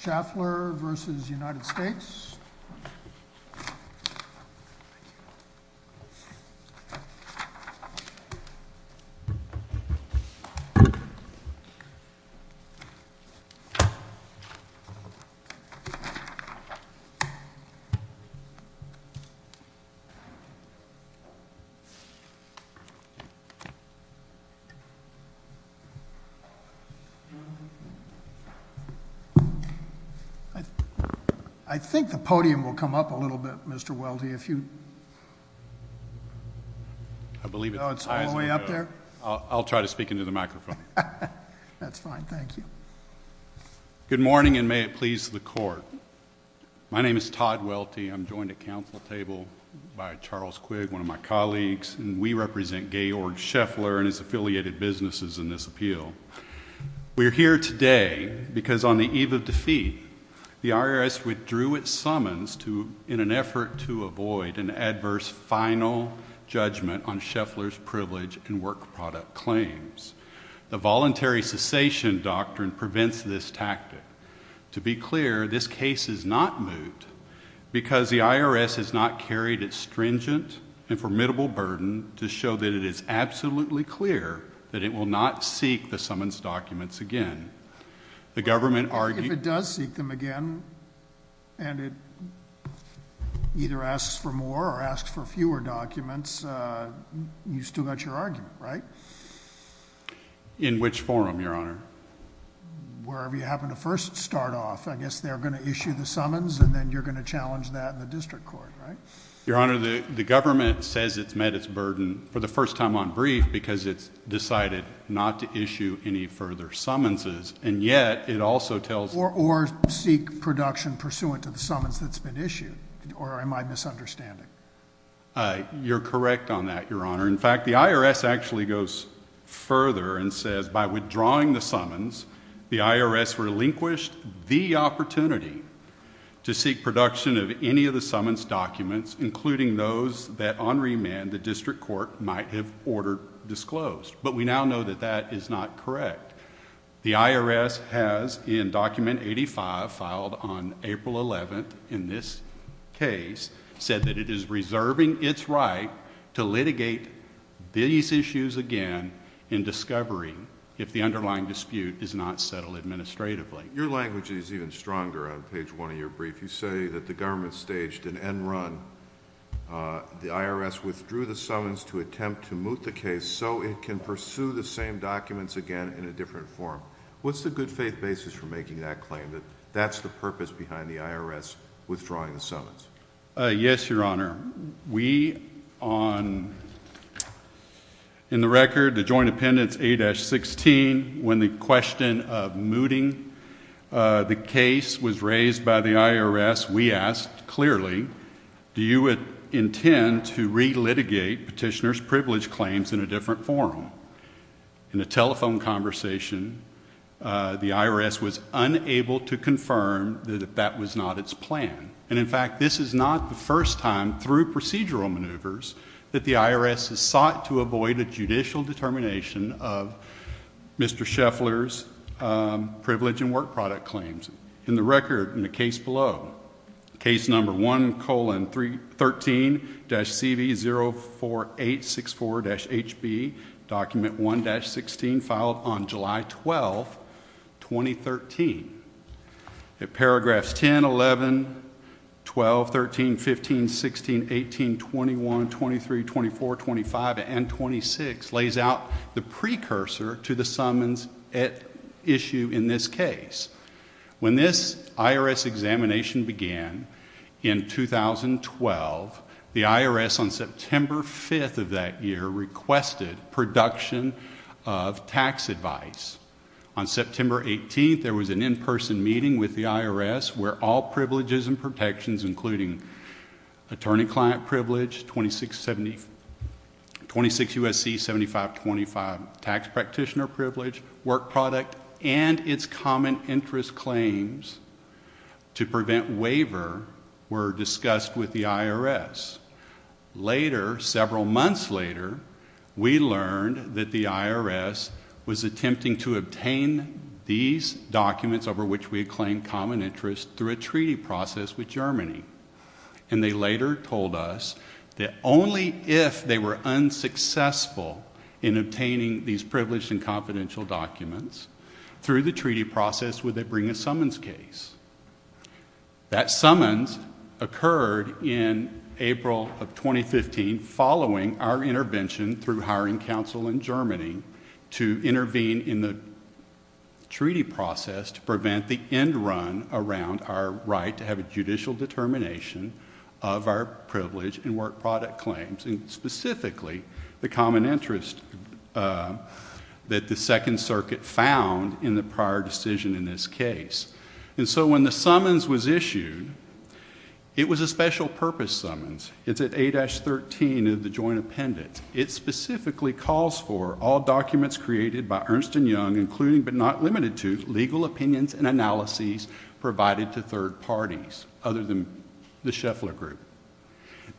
Schaeffler v. United States I think the podium will come up a little bit, Mr. Welty, if you... Oh, it's all the way up there? I'll try to speak into the microphone. That's fine, thank you. Good morning, and may it please the court. My name is Todd Welty, I'm joined at council table by Charles Quigg, one of my colleagues, and we represent Georg Schaeffler and his affiliated businesses in this appeal. We're here today because on the eve of defeat, the IRS withdrew its summons in an effort to avoid an adverse final judgment on Schaeffler's privilege and work product claims. The voluntary cessation doctrine prevents this tactic. To be clear, this case is not moved because the IRS has not carried its stringent and formidable burden to show that it is absolutely clear that it will not seek the summons documents again. If it does seek them again and it either asks for more or asks for fewer documents, you've still got your argument, right? In which forum, Your Honor? Wherever you happen to first start off. I guess they're going to issue the summons and then you're going to challenge that in the district court, right? Your Honor, the government says it's met its burden for the first time on brief because it's decided not to issue any further summonses. And yet it also tells... Or seek production pursuant to the summons that's been issued. Or am I misunderstanding? You're correct on that, Your Honor. In fact, the IRS actually goes further and says by withdrawing the summons, the IRS relinquished the opportunity to seek production of any of the summons documents, including those that on remand the district court might have ordered disclosed. But we now know that that is not correct. The IRS has, in Document 85, filed on April 11th in this case, said that it is reserving its right to litigate these issues again in discovery if the underlying dispute is not settled administratively. Your language is even stronger on page one of your brief. You say that the government staged an end run. The IRS withdrew the summons to attempt to moot the case so it can pursue the same documents again in a different form. What's the good faith basis for making that claim, that that's the purpose behind the IRS withdrawing the summons? Yes, Your Honor. We on... In the record, the Joint Appendix A-16, when the question of mooting the case was raised by the IRS, we asked clearly, do you intend to relitigate petitioner's privilege claims in a different form? In a telephone conversation, the IRS was unable to confirm that that was not its plan. And, in fact, this is not the first time through procedural maneuvers that the IRS has sought to avoid a judicial determination of Mr. Scheffler's privilege and work product claims. In the record, in the case below, case number 1-13-CV-04864-HB, document 1-16, filed on July 12, 2013. Paragraphs 10, 11, 12, 13, 15, 16, 18, 21, 23, 24, 25, and 26 lays out the precursor to the summons at issue in this case. When this IRS examination began in 2012, the IRS, on September 5 of that year, requested production of tax advice. On September 18, there was an in-person meeting with the IRS where all privileges and protections, including attorney-client privilege, 26 U.S.C. 7525, tax practitioner privilege, work product, and its common interest claims to prevent waiver were discussed with the IRS. Later, several months later, we learned that the IRS was attempting to obtain these documents over which we had claimed common interest through a treaty process with Germany. And they later told us that only if they were unsuccessful in obtaining these privileged and confidential documents, through the treaty process would they bring a summons case. That summons occurred in April of 2015, following our intervention through hiring counsel in Germany to intervene in the treaty process to prevent the end run around our right to have a judicial determination of our privilege and work product claims, and specifically the common interest that the Second Circuit found in the prior decision in this case. And so when the summons was issued, it was a special-purpose summons. It's at A-13 of the joint appendix. It specifically calls for all documents created by Ernst & Young, including but not limited to legal opinions and analyses provided to third parties other than the Schaeffler Group.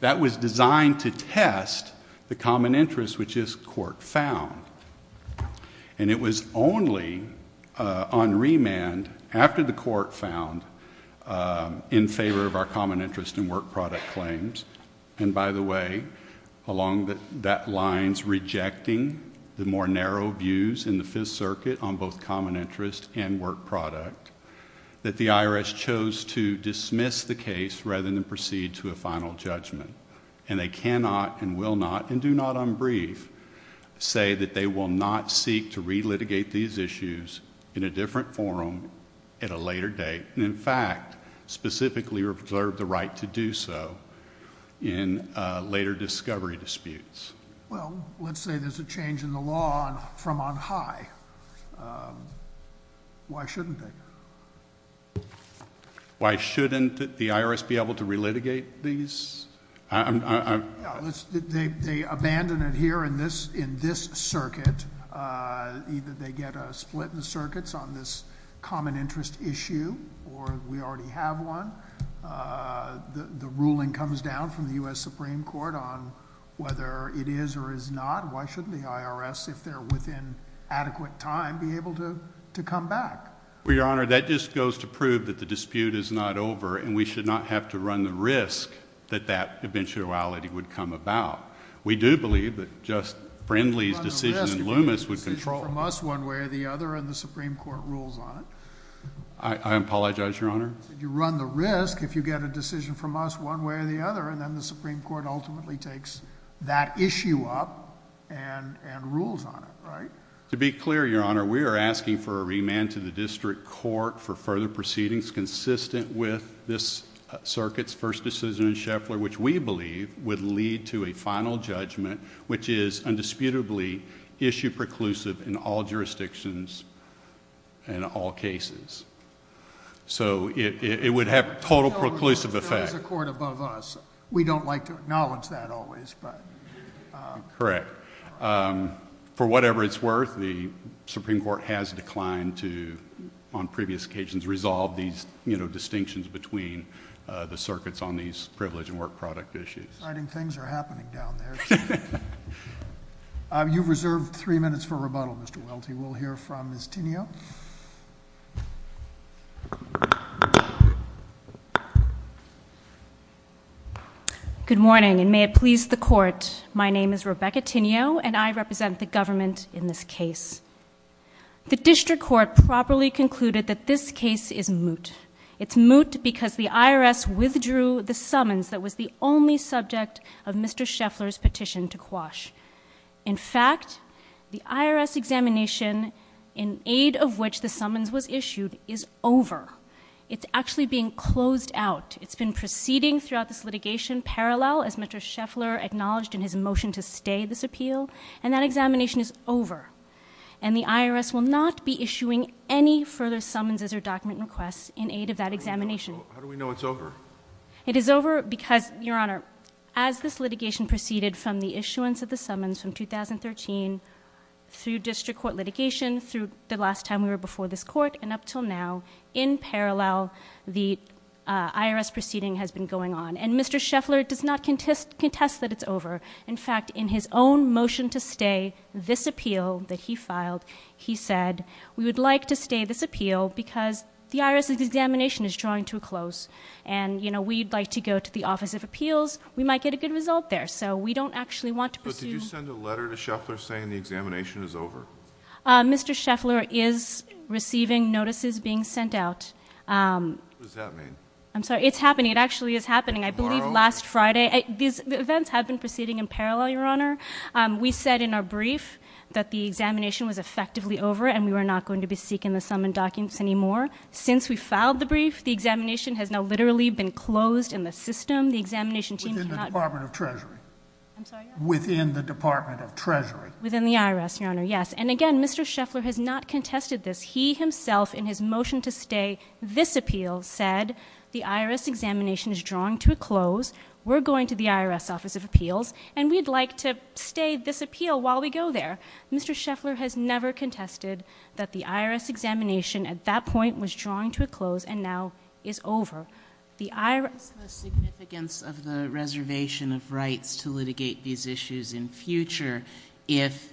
That was designed to test the common interest, which this court found. And it was only on remand, after the court found, in favor of our common interest and work product claims. And by the way, along that line, the court finds rejecting the more narrow views in the Fifth Circuit on both common interest and work product that the IRS chose to dismiss the case rather than proceed to a final judgment. And they cannot and will not, and do not unbrief, say that they will not seek to relitigate these issues in a different forum at a later date, and in fact specifically reserve the right to do so in later discovery disputes. Well, let's say there's a change in the law from on high. Why shouldn't they? Why shouldn't the IRS be able to relitigate these? They abandon it here in this circuit. Either they get a split in the circuits on this common interest issue, or we already have one. The ruling comes down from the U.S. Supreme Court on whether it is or is not. Why shouldn't the IRS, if they're within adequate time, be able to come back? Well, Your Honor, that just goes to prove that the dispute is not over and we should not have to run the risk that that eventuality would come about. We do believe that just Friendly's decision in Loomis would control it. You run the risk of getting a decision from us one way or the other, and the Supreme Court rules on it. I apologize, Your Honor. You run the risk if you get a decision from us one way or the other, and then the Supreme Court ultimately takes that issue up and rules on it. To be clear, Your Honor, we are asking for a remand to the district court for further proceedings consistent with this circuit's first decision in Scheffler, which we believe would lead to a final judgment which is indisputably issue-preclusive in all jurisdictions and all cases. So it would have total preclusive effect. There is a court above us. We don't like to acknowledge that always, but... Correct. For whatever it's worth, the Supreme Court has declined to, on previous occasions, resolve these distinctions between the circuits on these privilege and work product issues. Exciting things are happening down there. You've reserved three minutes for rebuttal, Mr. Welty. We will hear from Ms. Tinio. Good morning, and may it please the Court. My name is Rebecca Tinio, and I represent the government in this case. The district court properly concluded that this case is moot. It's moot because the IRS withdrew the summons that was the only subject of Mr. Scheffler's petition to quash. In fact, the IRS examination, in aid of which the summons was issued, is over. It's actually being closed out. It's been proceeding throughout this litigation parallel, as Mr. Scheffler acknowledged in his motion to stay this appeal, and that examination is over. And the IRS will not be issuing any further summonses or document requests in aid of that examination. How do we know it's over? It is over because, Your Honor, as this litigation proceeded from the issuance of the summons from 2013 through district court litigation, through the last time we were before this court, and up until now, in parallel, the IRS proceeding has been going on. And Mr. Scheffler does not contest that it's over. In fact, in his own motion to stay this appeal that he filed, he said, we would like to stay this appeal because the IRS examination is drawing to a close, and we'd like to go to the Office of Appeals. We might get a good result there. So we don't actually want to pursue... But did you send a letter to Scheffler saying the examination is over? Mr. Scheffler is receiving notices being sent out. What does that mean? I'm sorry. It's happening. It actually is happening. I believe last Friday. The events have been proceeding in parallel, Your Honor. We said in our brief that the examination was effectively over and we were not going to be seeking the summons documents anymore. Since we filed the brief, the examination has now literally been closed in the system. The examination team cannot... Within the Department of Treasury. I'm sorry? Within the Department of Treasury. Within the IRS, Your Honor, yes. And again, Mr. Scheffler has not contested this. He himself, in his motion to stay this appeal, said the IRS examination is drawing to a close, we're going to the IRS Office of Appeals, and we'd like to stay this appeal while we go there. Mr. Scheffler has never contested that the IRS examination, at that point, was drawing to a close and now is over. What is the significance of the reservation of rights to litigate these issues in future if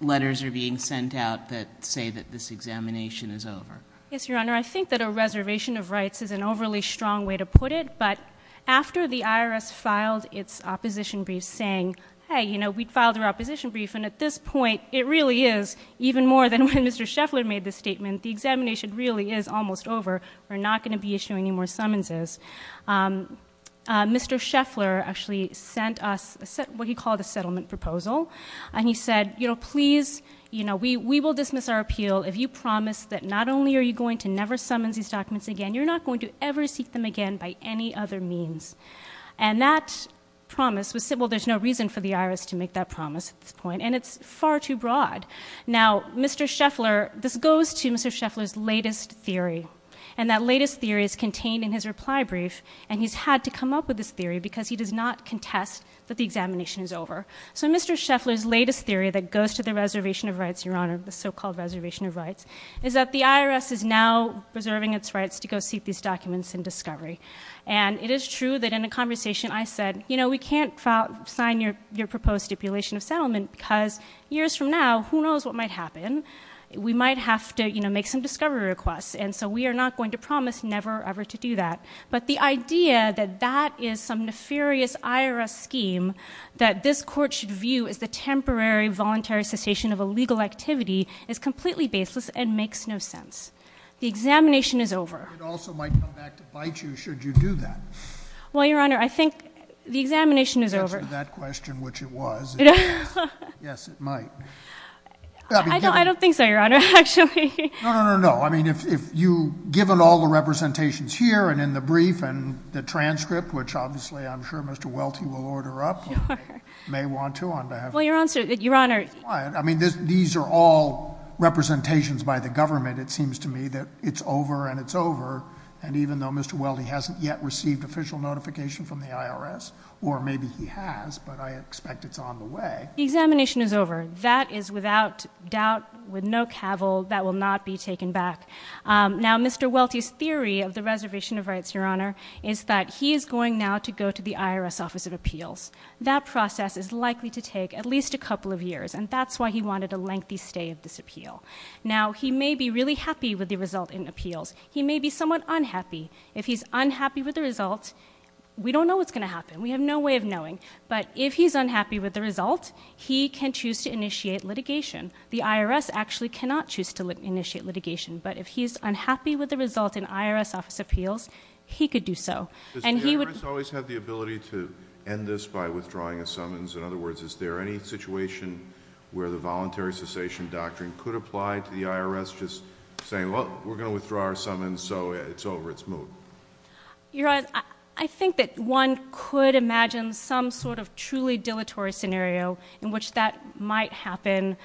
letters are being sent out that say that this examination is over? Yes, Your Honor. I think that a reservation of rights is an overly strong way to put it, but after the IRS filed its opposition brief saying, hey, you know, we filed our opposition brief, and at this point it really is even more than when Mr. Scheffler made the statement, the examination really is almost over, we're not going to be issuing any more summonses, Mr. Scheffler actually sent us what he called a settlement proposal, and he said, you know, please, you know, we will dismiss our appeal if you promise that not only are you going to never summons these documents again, you're not going to ever seek them again by any other means. And that promise was simple. There's no reason for the IRS to make that promise at this point, and it's far too broad. Now, Mr. Scheffler, this goes to Mr. Scheffler's latest theory, and that latest theory is contained in his reply brief, and he's had to come up with this theory because he does not contest that the examination is over. So Mr. Scheffler's latest theory that goes to the reservation of rights, Your Honor, the so-called reservation of rights, is that the IRS is now preserving its rights to go seek these documents in discovery. And it is true that in a conversation I said, you know, we can't sign your proposed stipulation of settlement because years from now who knows what might happen. We might have to, you know, make some discovery requests, and so we are not going to promise never ever to do that. But the idea that that is some nefarious IRS scheme that this court should view as the temporary voluntary cessation of a legal activity is completely baseless and makes no sense. The examination is over. It also might come back to bite you should you do that. Well, Your Honor, I think the examination is over. If I could answer that question, which it was, yes, it might. I don't think so, Your Honor, actually. No, no, no, no. I mean, if you, given all the representations here and in the brief and the transcript, which obviously I'm sure Mr. Welty will order up or may want to on behalf of me. Well, Your Honor. I mean, these are all representations by the government, it seems to me, that it's over and it's over, and even though Mr. Welty hasn't yet received official notification from the IRS or maybe he has, but I expect it's on the way. The examination is over. That is without doubt, with no cavil, that will not be taken back. Now, Mr. Welty's theory of the reservation of rights, Your Honor, is that he is going now to go to the IRS Office of Appeals. That process is likely to take at least a couple of years, and that's why he wanted a lengthy stay of this appeal. Now, he may be really happy with the result in appeals. He may be somewhat unhappy. If he's unhappy with the result, we don't know what's going to happen. We have no way of knowing. But if he's unhappy with the result, he can choose to initiate litigation. The IRS actually cannot choose to initiate litigation, but if he's unhappy with the result in IRS Office of Appeals, he could do so. Does the IRS always have the ability to end this by withdrawing a summons? In other words, is there any situation where the voluntary cessation doctrine could apply to the IRS just saying, well, we're going to withdraw our summons, so it's over. Your Honor, I think that one could imagine some sort of truly dilatory scenario in which that might happen,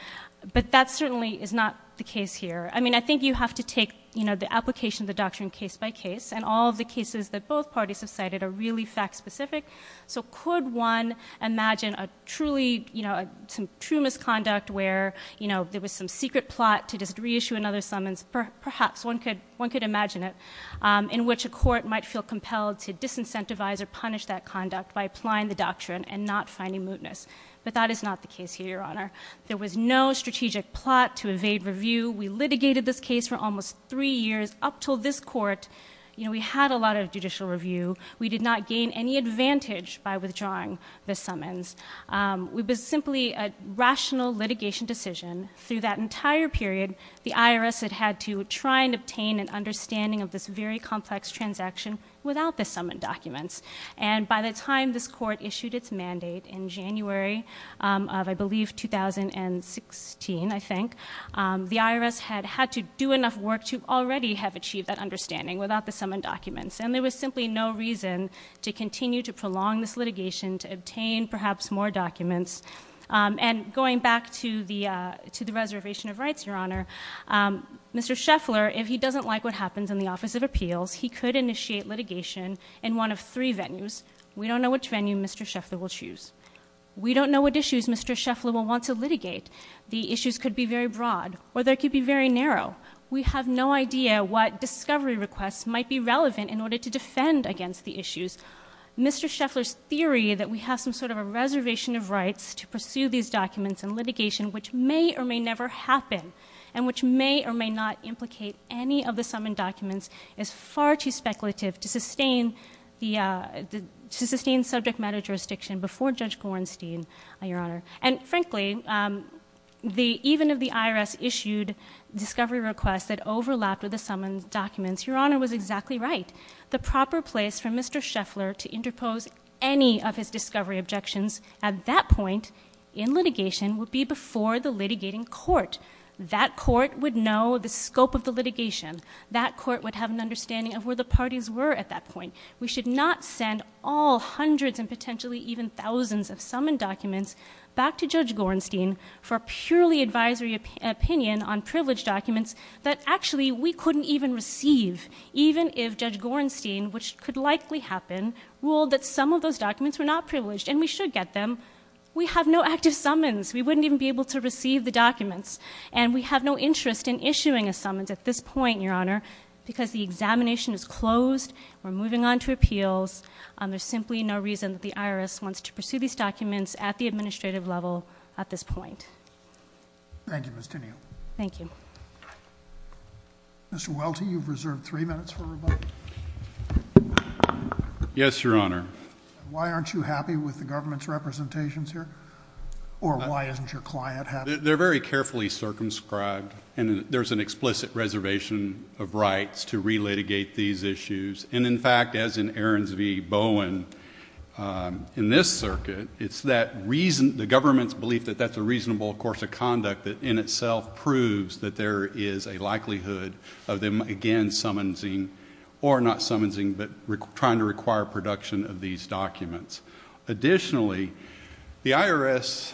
but that certainly is not the case here. I mean, I think you have to take, you know, the application of the doctrine case by case, and all of the cases that both parties have cited are really fact specific. So could one imagine a truly, you know, some true misconduct where, you know, there was some secret plot to just reissue another summons? Perhaps one could imagine it. In which a court might feel compelled to disincentivize or punish that conduct by applying the doctrine and not finding mootness. But that is not the case here, Your Honor. There was no strategic plot to evade review. We litigated this case for almost three years up till this court. You know, we had a lot of judicial review. We did not gain any advantage by withdrawing the summons. It was simply a rational litigation decision. Through that entire period, the IRS had had to try and obtain an understanding of this very complex transaction without the summons documents. And by the time this court issued its mandate in January of, I believe, 2016, I think, the IRS had had to do enough work to already have achieved that understanding without the summons documents. And there was simply no reason to continue to prolong this litigation to obtain perhaps more documents. And going back to the reservation of rights, Your Honor, Mr. Scheffler, if he doesn't like what happens in the Office of Appeals, he could initiate litigation in one of three venues. We don't know which venue Mr. Scheffler will choose. We don't know what issues Mr. Scheffler will want to litigate. The issues could be very broad or they could be very narrow. We have no idea what discovery requests might be relevant in order to defend against the issues. Mr. Scheffler's theory that we have some sort of a reservation of rights to pursue these documents in litigation which may or may never happen and which may or may not implicate any of the summons documents is far too speculative to sustain subject matter jurisdiction before Judge Gorenstein, Your Honor. And frankly, even if the IRS issued discovery requests that overlapped with the summons documents, Your Honor was exactly right. The proper place for Mr. Scheffler to interpose any of his discovery objections at that point in litigation would be before the litigating court. That court would know the scope of the litigation. That court would have an understanding of where the parties were at that point. We should not send all hundreds and potentially even thousands of summons documents back to Judge Gorenstein for purely advisory opinion on privileged documents that actually we couldn't even receive. Even if Judge Gorenstein, which could likely happen, ruled that some of those documents were not privileged and we should get them, we have no active summons. We wouldn't even be able to receive the documents. And we have no interest in issuing a summons at this point, Your Honor, because the examination is closed. We're moving on to appeals. There's simply no reason that the IRS wants to pursue these documents at the administrative level at this point. Thank you, Ms. Tenniel. Thank you. Mr. Welty, you've reserved three minutes for rebuttal. Yes, Your Honor. Why aren't you happy with the government's representations here? Or why isn't your client happy? They're very carefully circumscribed. And there's an explicit reservation of rights to relitigate these issues. And, in fact, as in Aarons v. Bowen, in this circuit, it's the government's belief that that's a reasonable course of conduct that in itself proves that there is a likelihood of them again summoning or not summoning but trying to require production of these documents. Additionally, the IRS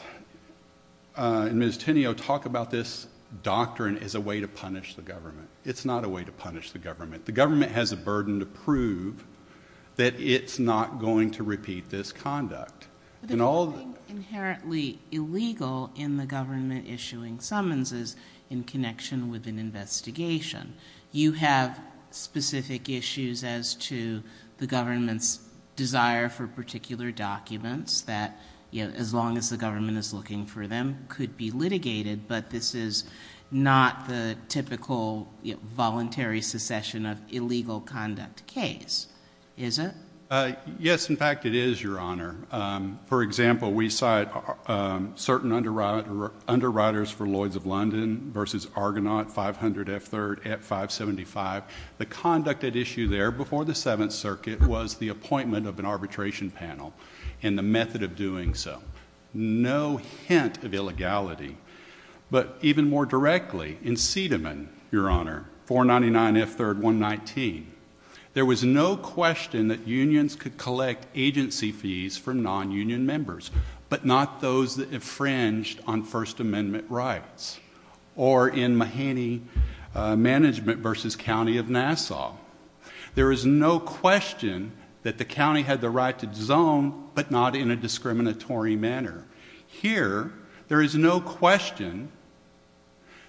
and Ms. Tenniel talk about this doctrine as a way to punish the government. It's not a way to punish the government. The government has a burden to prove that it's not going to repeat this conduct. But the ruling inherently illegal in the government issuing summons is in connection with an investigation. You have specific issues as to the government's desire for particular documents that, as long as the government is looking for them, could be litigated, but this is not the typical voluntary secession of illegal conduct case, is it? Yes, in fact, it is, Your Honor. For example, we cite certain underwriters for Lloyds of London v. Argonaut, 500 F. 3rd at 575. The conduct at issue there before the Seventh Circuit was the appointment of an arbitration panel and the method of doing so. No hint of illegality. But even more directly, in Sediman, Your Honor, 499 F. 3rd, 119, there was no question that unions could collect agency fees from nonunion members, but not those that infringed on First Amendment rights. Or in Mahaney Management v. County of Nassau, there is no question that the county had the right to zone, but not in a discriminatory manner. Here, there is no question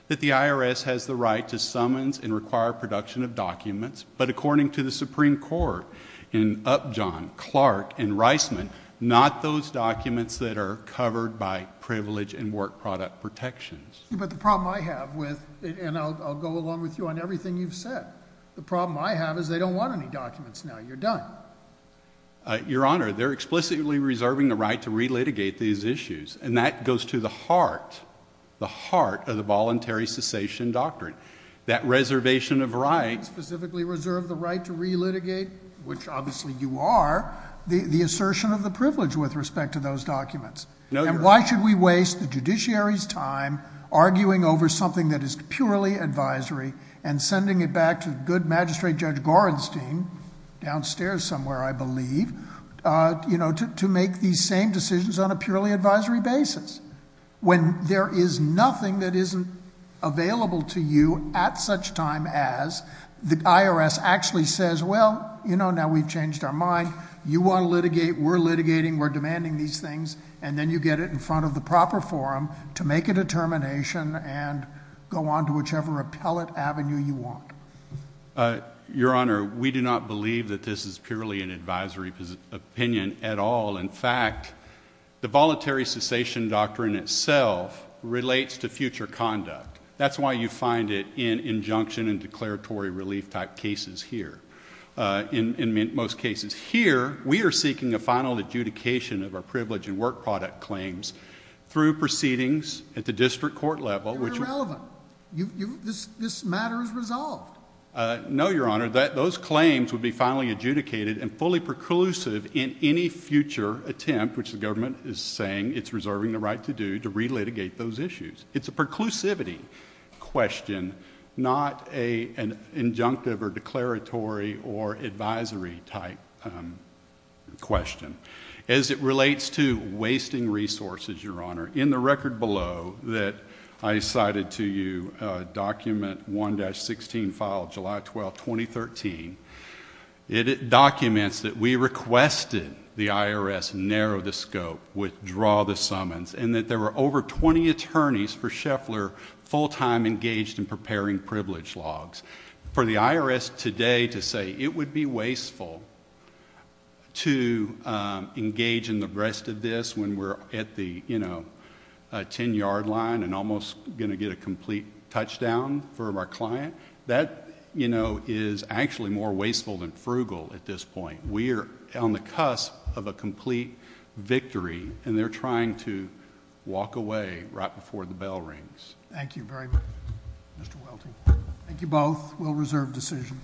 that the IRS has the right to summons and require production of documents, but according to the Supreme Court in Upjohn, Clark, and Reisman, not those documents that are covered by privilege and work product protections. But the problem I have with, and I'll go along with you on everything you've said, the problem I have is they don't want any documents now. You're done. Your Honor, they're explicitly reserving the right to relitigate these issues, and that goes to the heart, the heart of the voluntary cessation doctrine. That reservation of rights. You don't specifically reserve the right to relitigate, which obviously you are, the assertion of the privilege with respect to those documents. No, Your Honor. And why should we waste the judiciary's time arguing over something that is purely advisory and sending it back to good magistrate Judge Gorenstein, downstairs somewhere, I believe, to make these same decisions on a purely advisory basis when there is nothing that isn't available to you at such time as the IRS actually says, well, you know, now we've changed our mind. You want to litigate. We're litigating. We're demanding these things. And then you get it in front of the proper forum to make a determination and go on to whichever appellate avenue you want. Your Honor, we do not believe that this is purely an advisory opinion at all. In fact, the voluntary cessation doctrine itself relates to future conduct. That's why you find it in injunction and declaratory relief type cases here, in most cases. Here we are seeking a final adjudication of our privilege and work product claims through proceedings at the district court level. You're irrelevant. This matter is resolved. No, Your Honor. Those claims would be finally adjudicated and fully preclusive in any future attempt, which the government is saying it's reserving the right to do, to relitigate those issues. It's a preclusivity question, not an injunctive or declaratory or advisory type question. As it relates to wasting resources, Your Honor, in the record below that I cited to you, the document 1-16 file, July 12, 2013, it documents that we requested the IRS narrow the scope, withdraw the summons, and that there were over 20 attorneys for Scheffler full-time engaged in preparing privilege logs. For the IRS today to say it would be wasteful to engage in the rest of this when we're at the ten-yard line and almost going to get a complete touchdown for our client, that is actually more wasteful than frugal at this point. We are on the cusp of a complete victory, and they're trying to walk away right before the bell rings. Thank you very much, Mr. Welty. Thank you both. We'll reserve decision.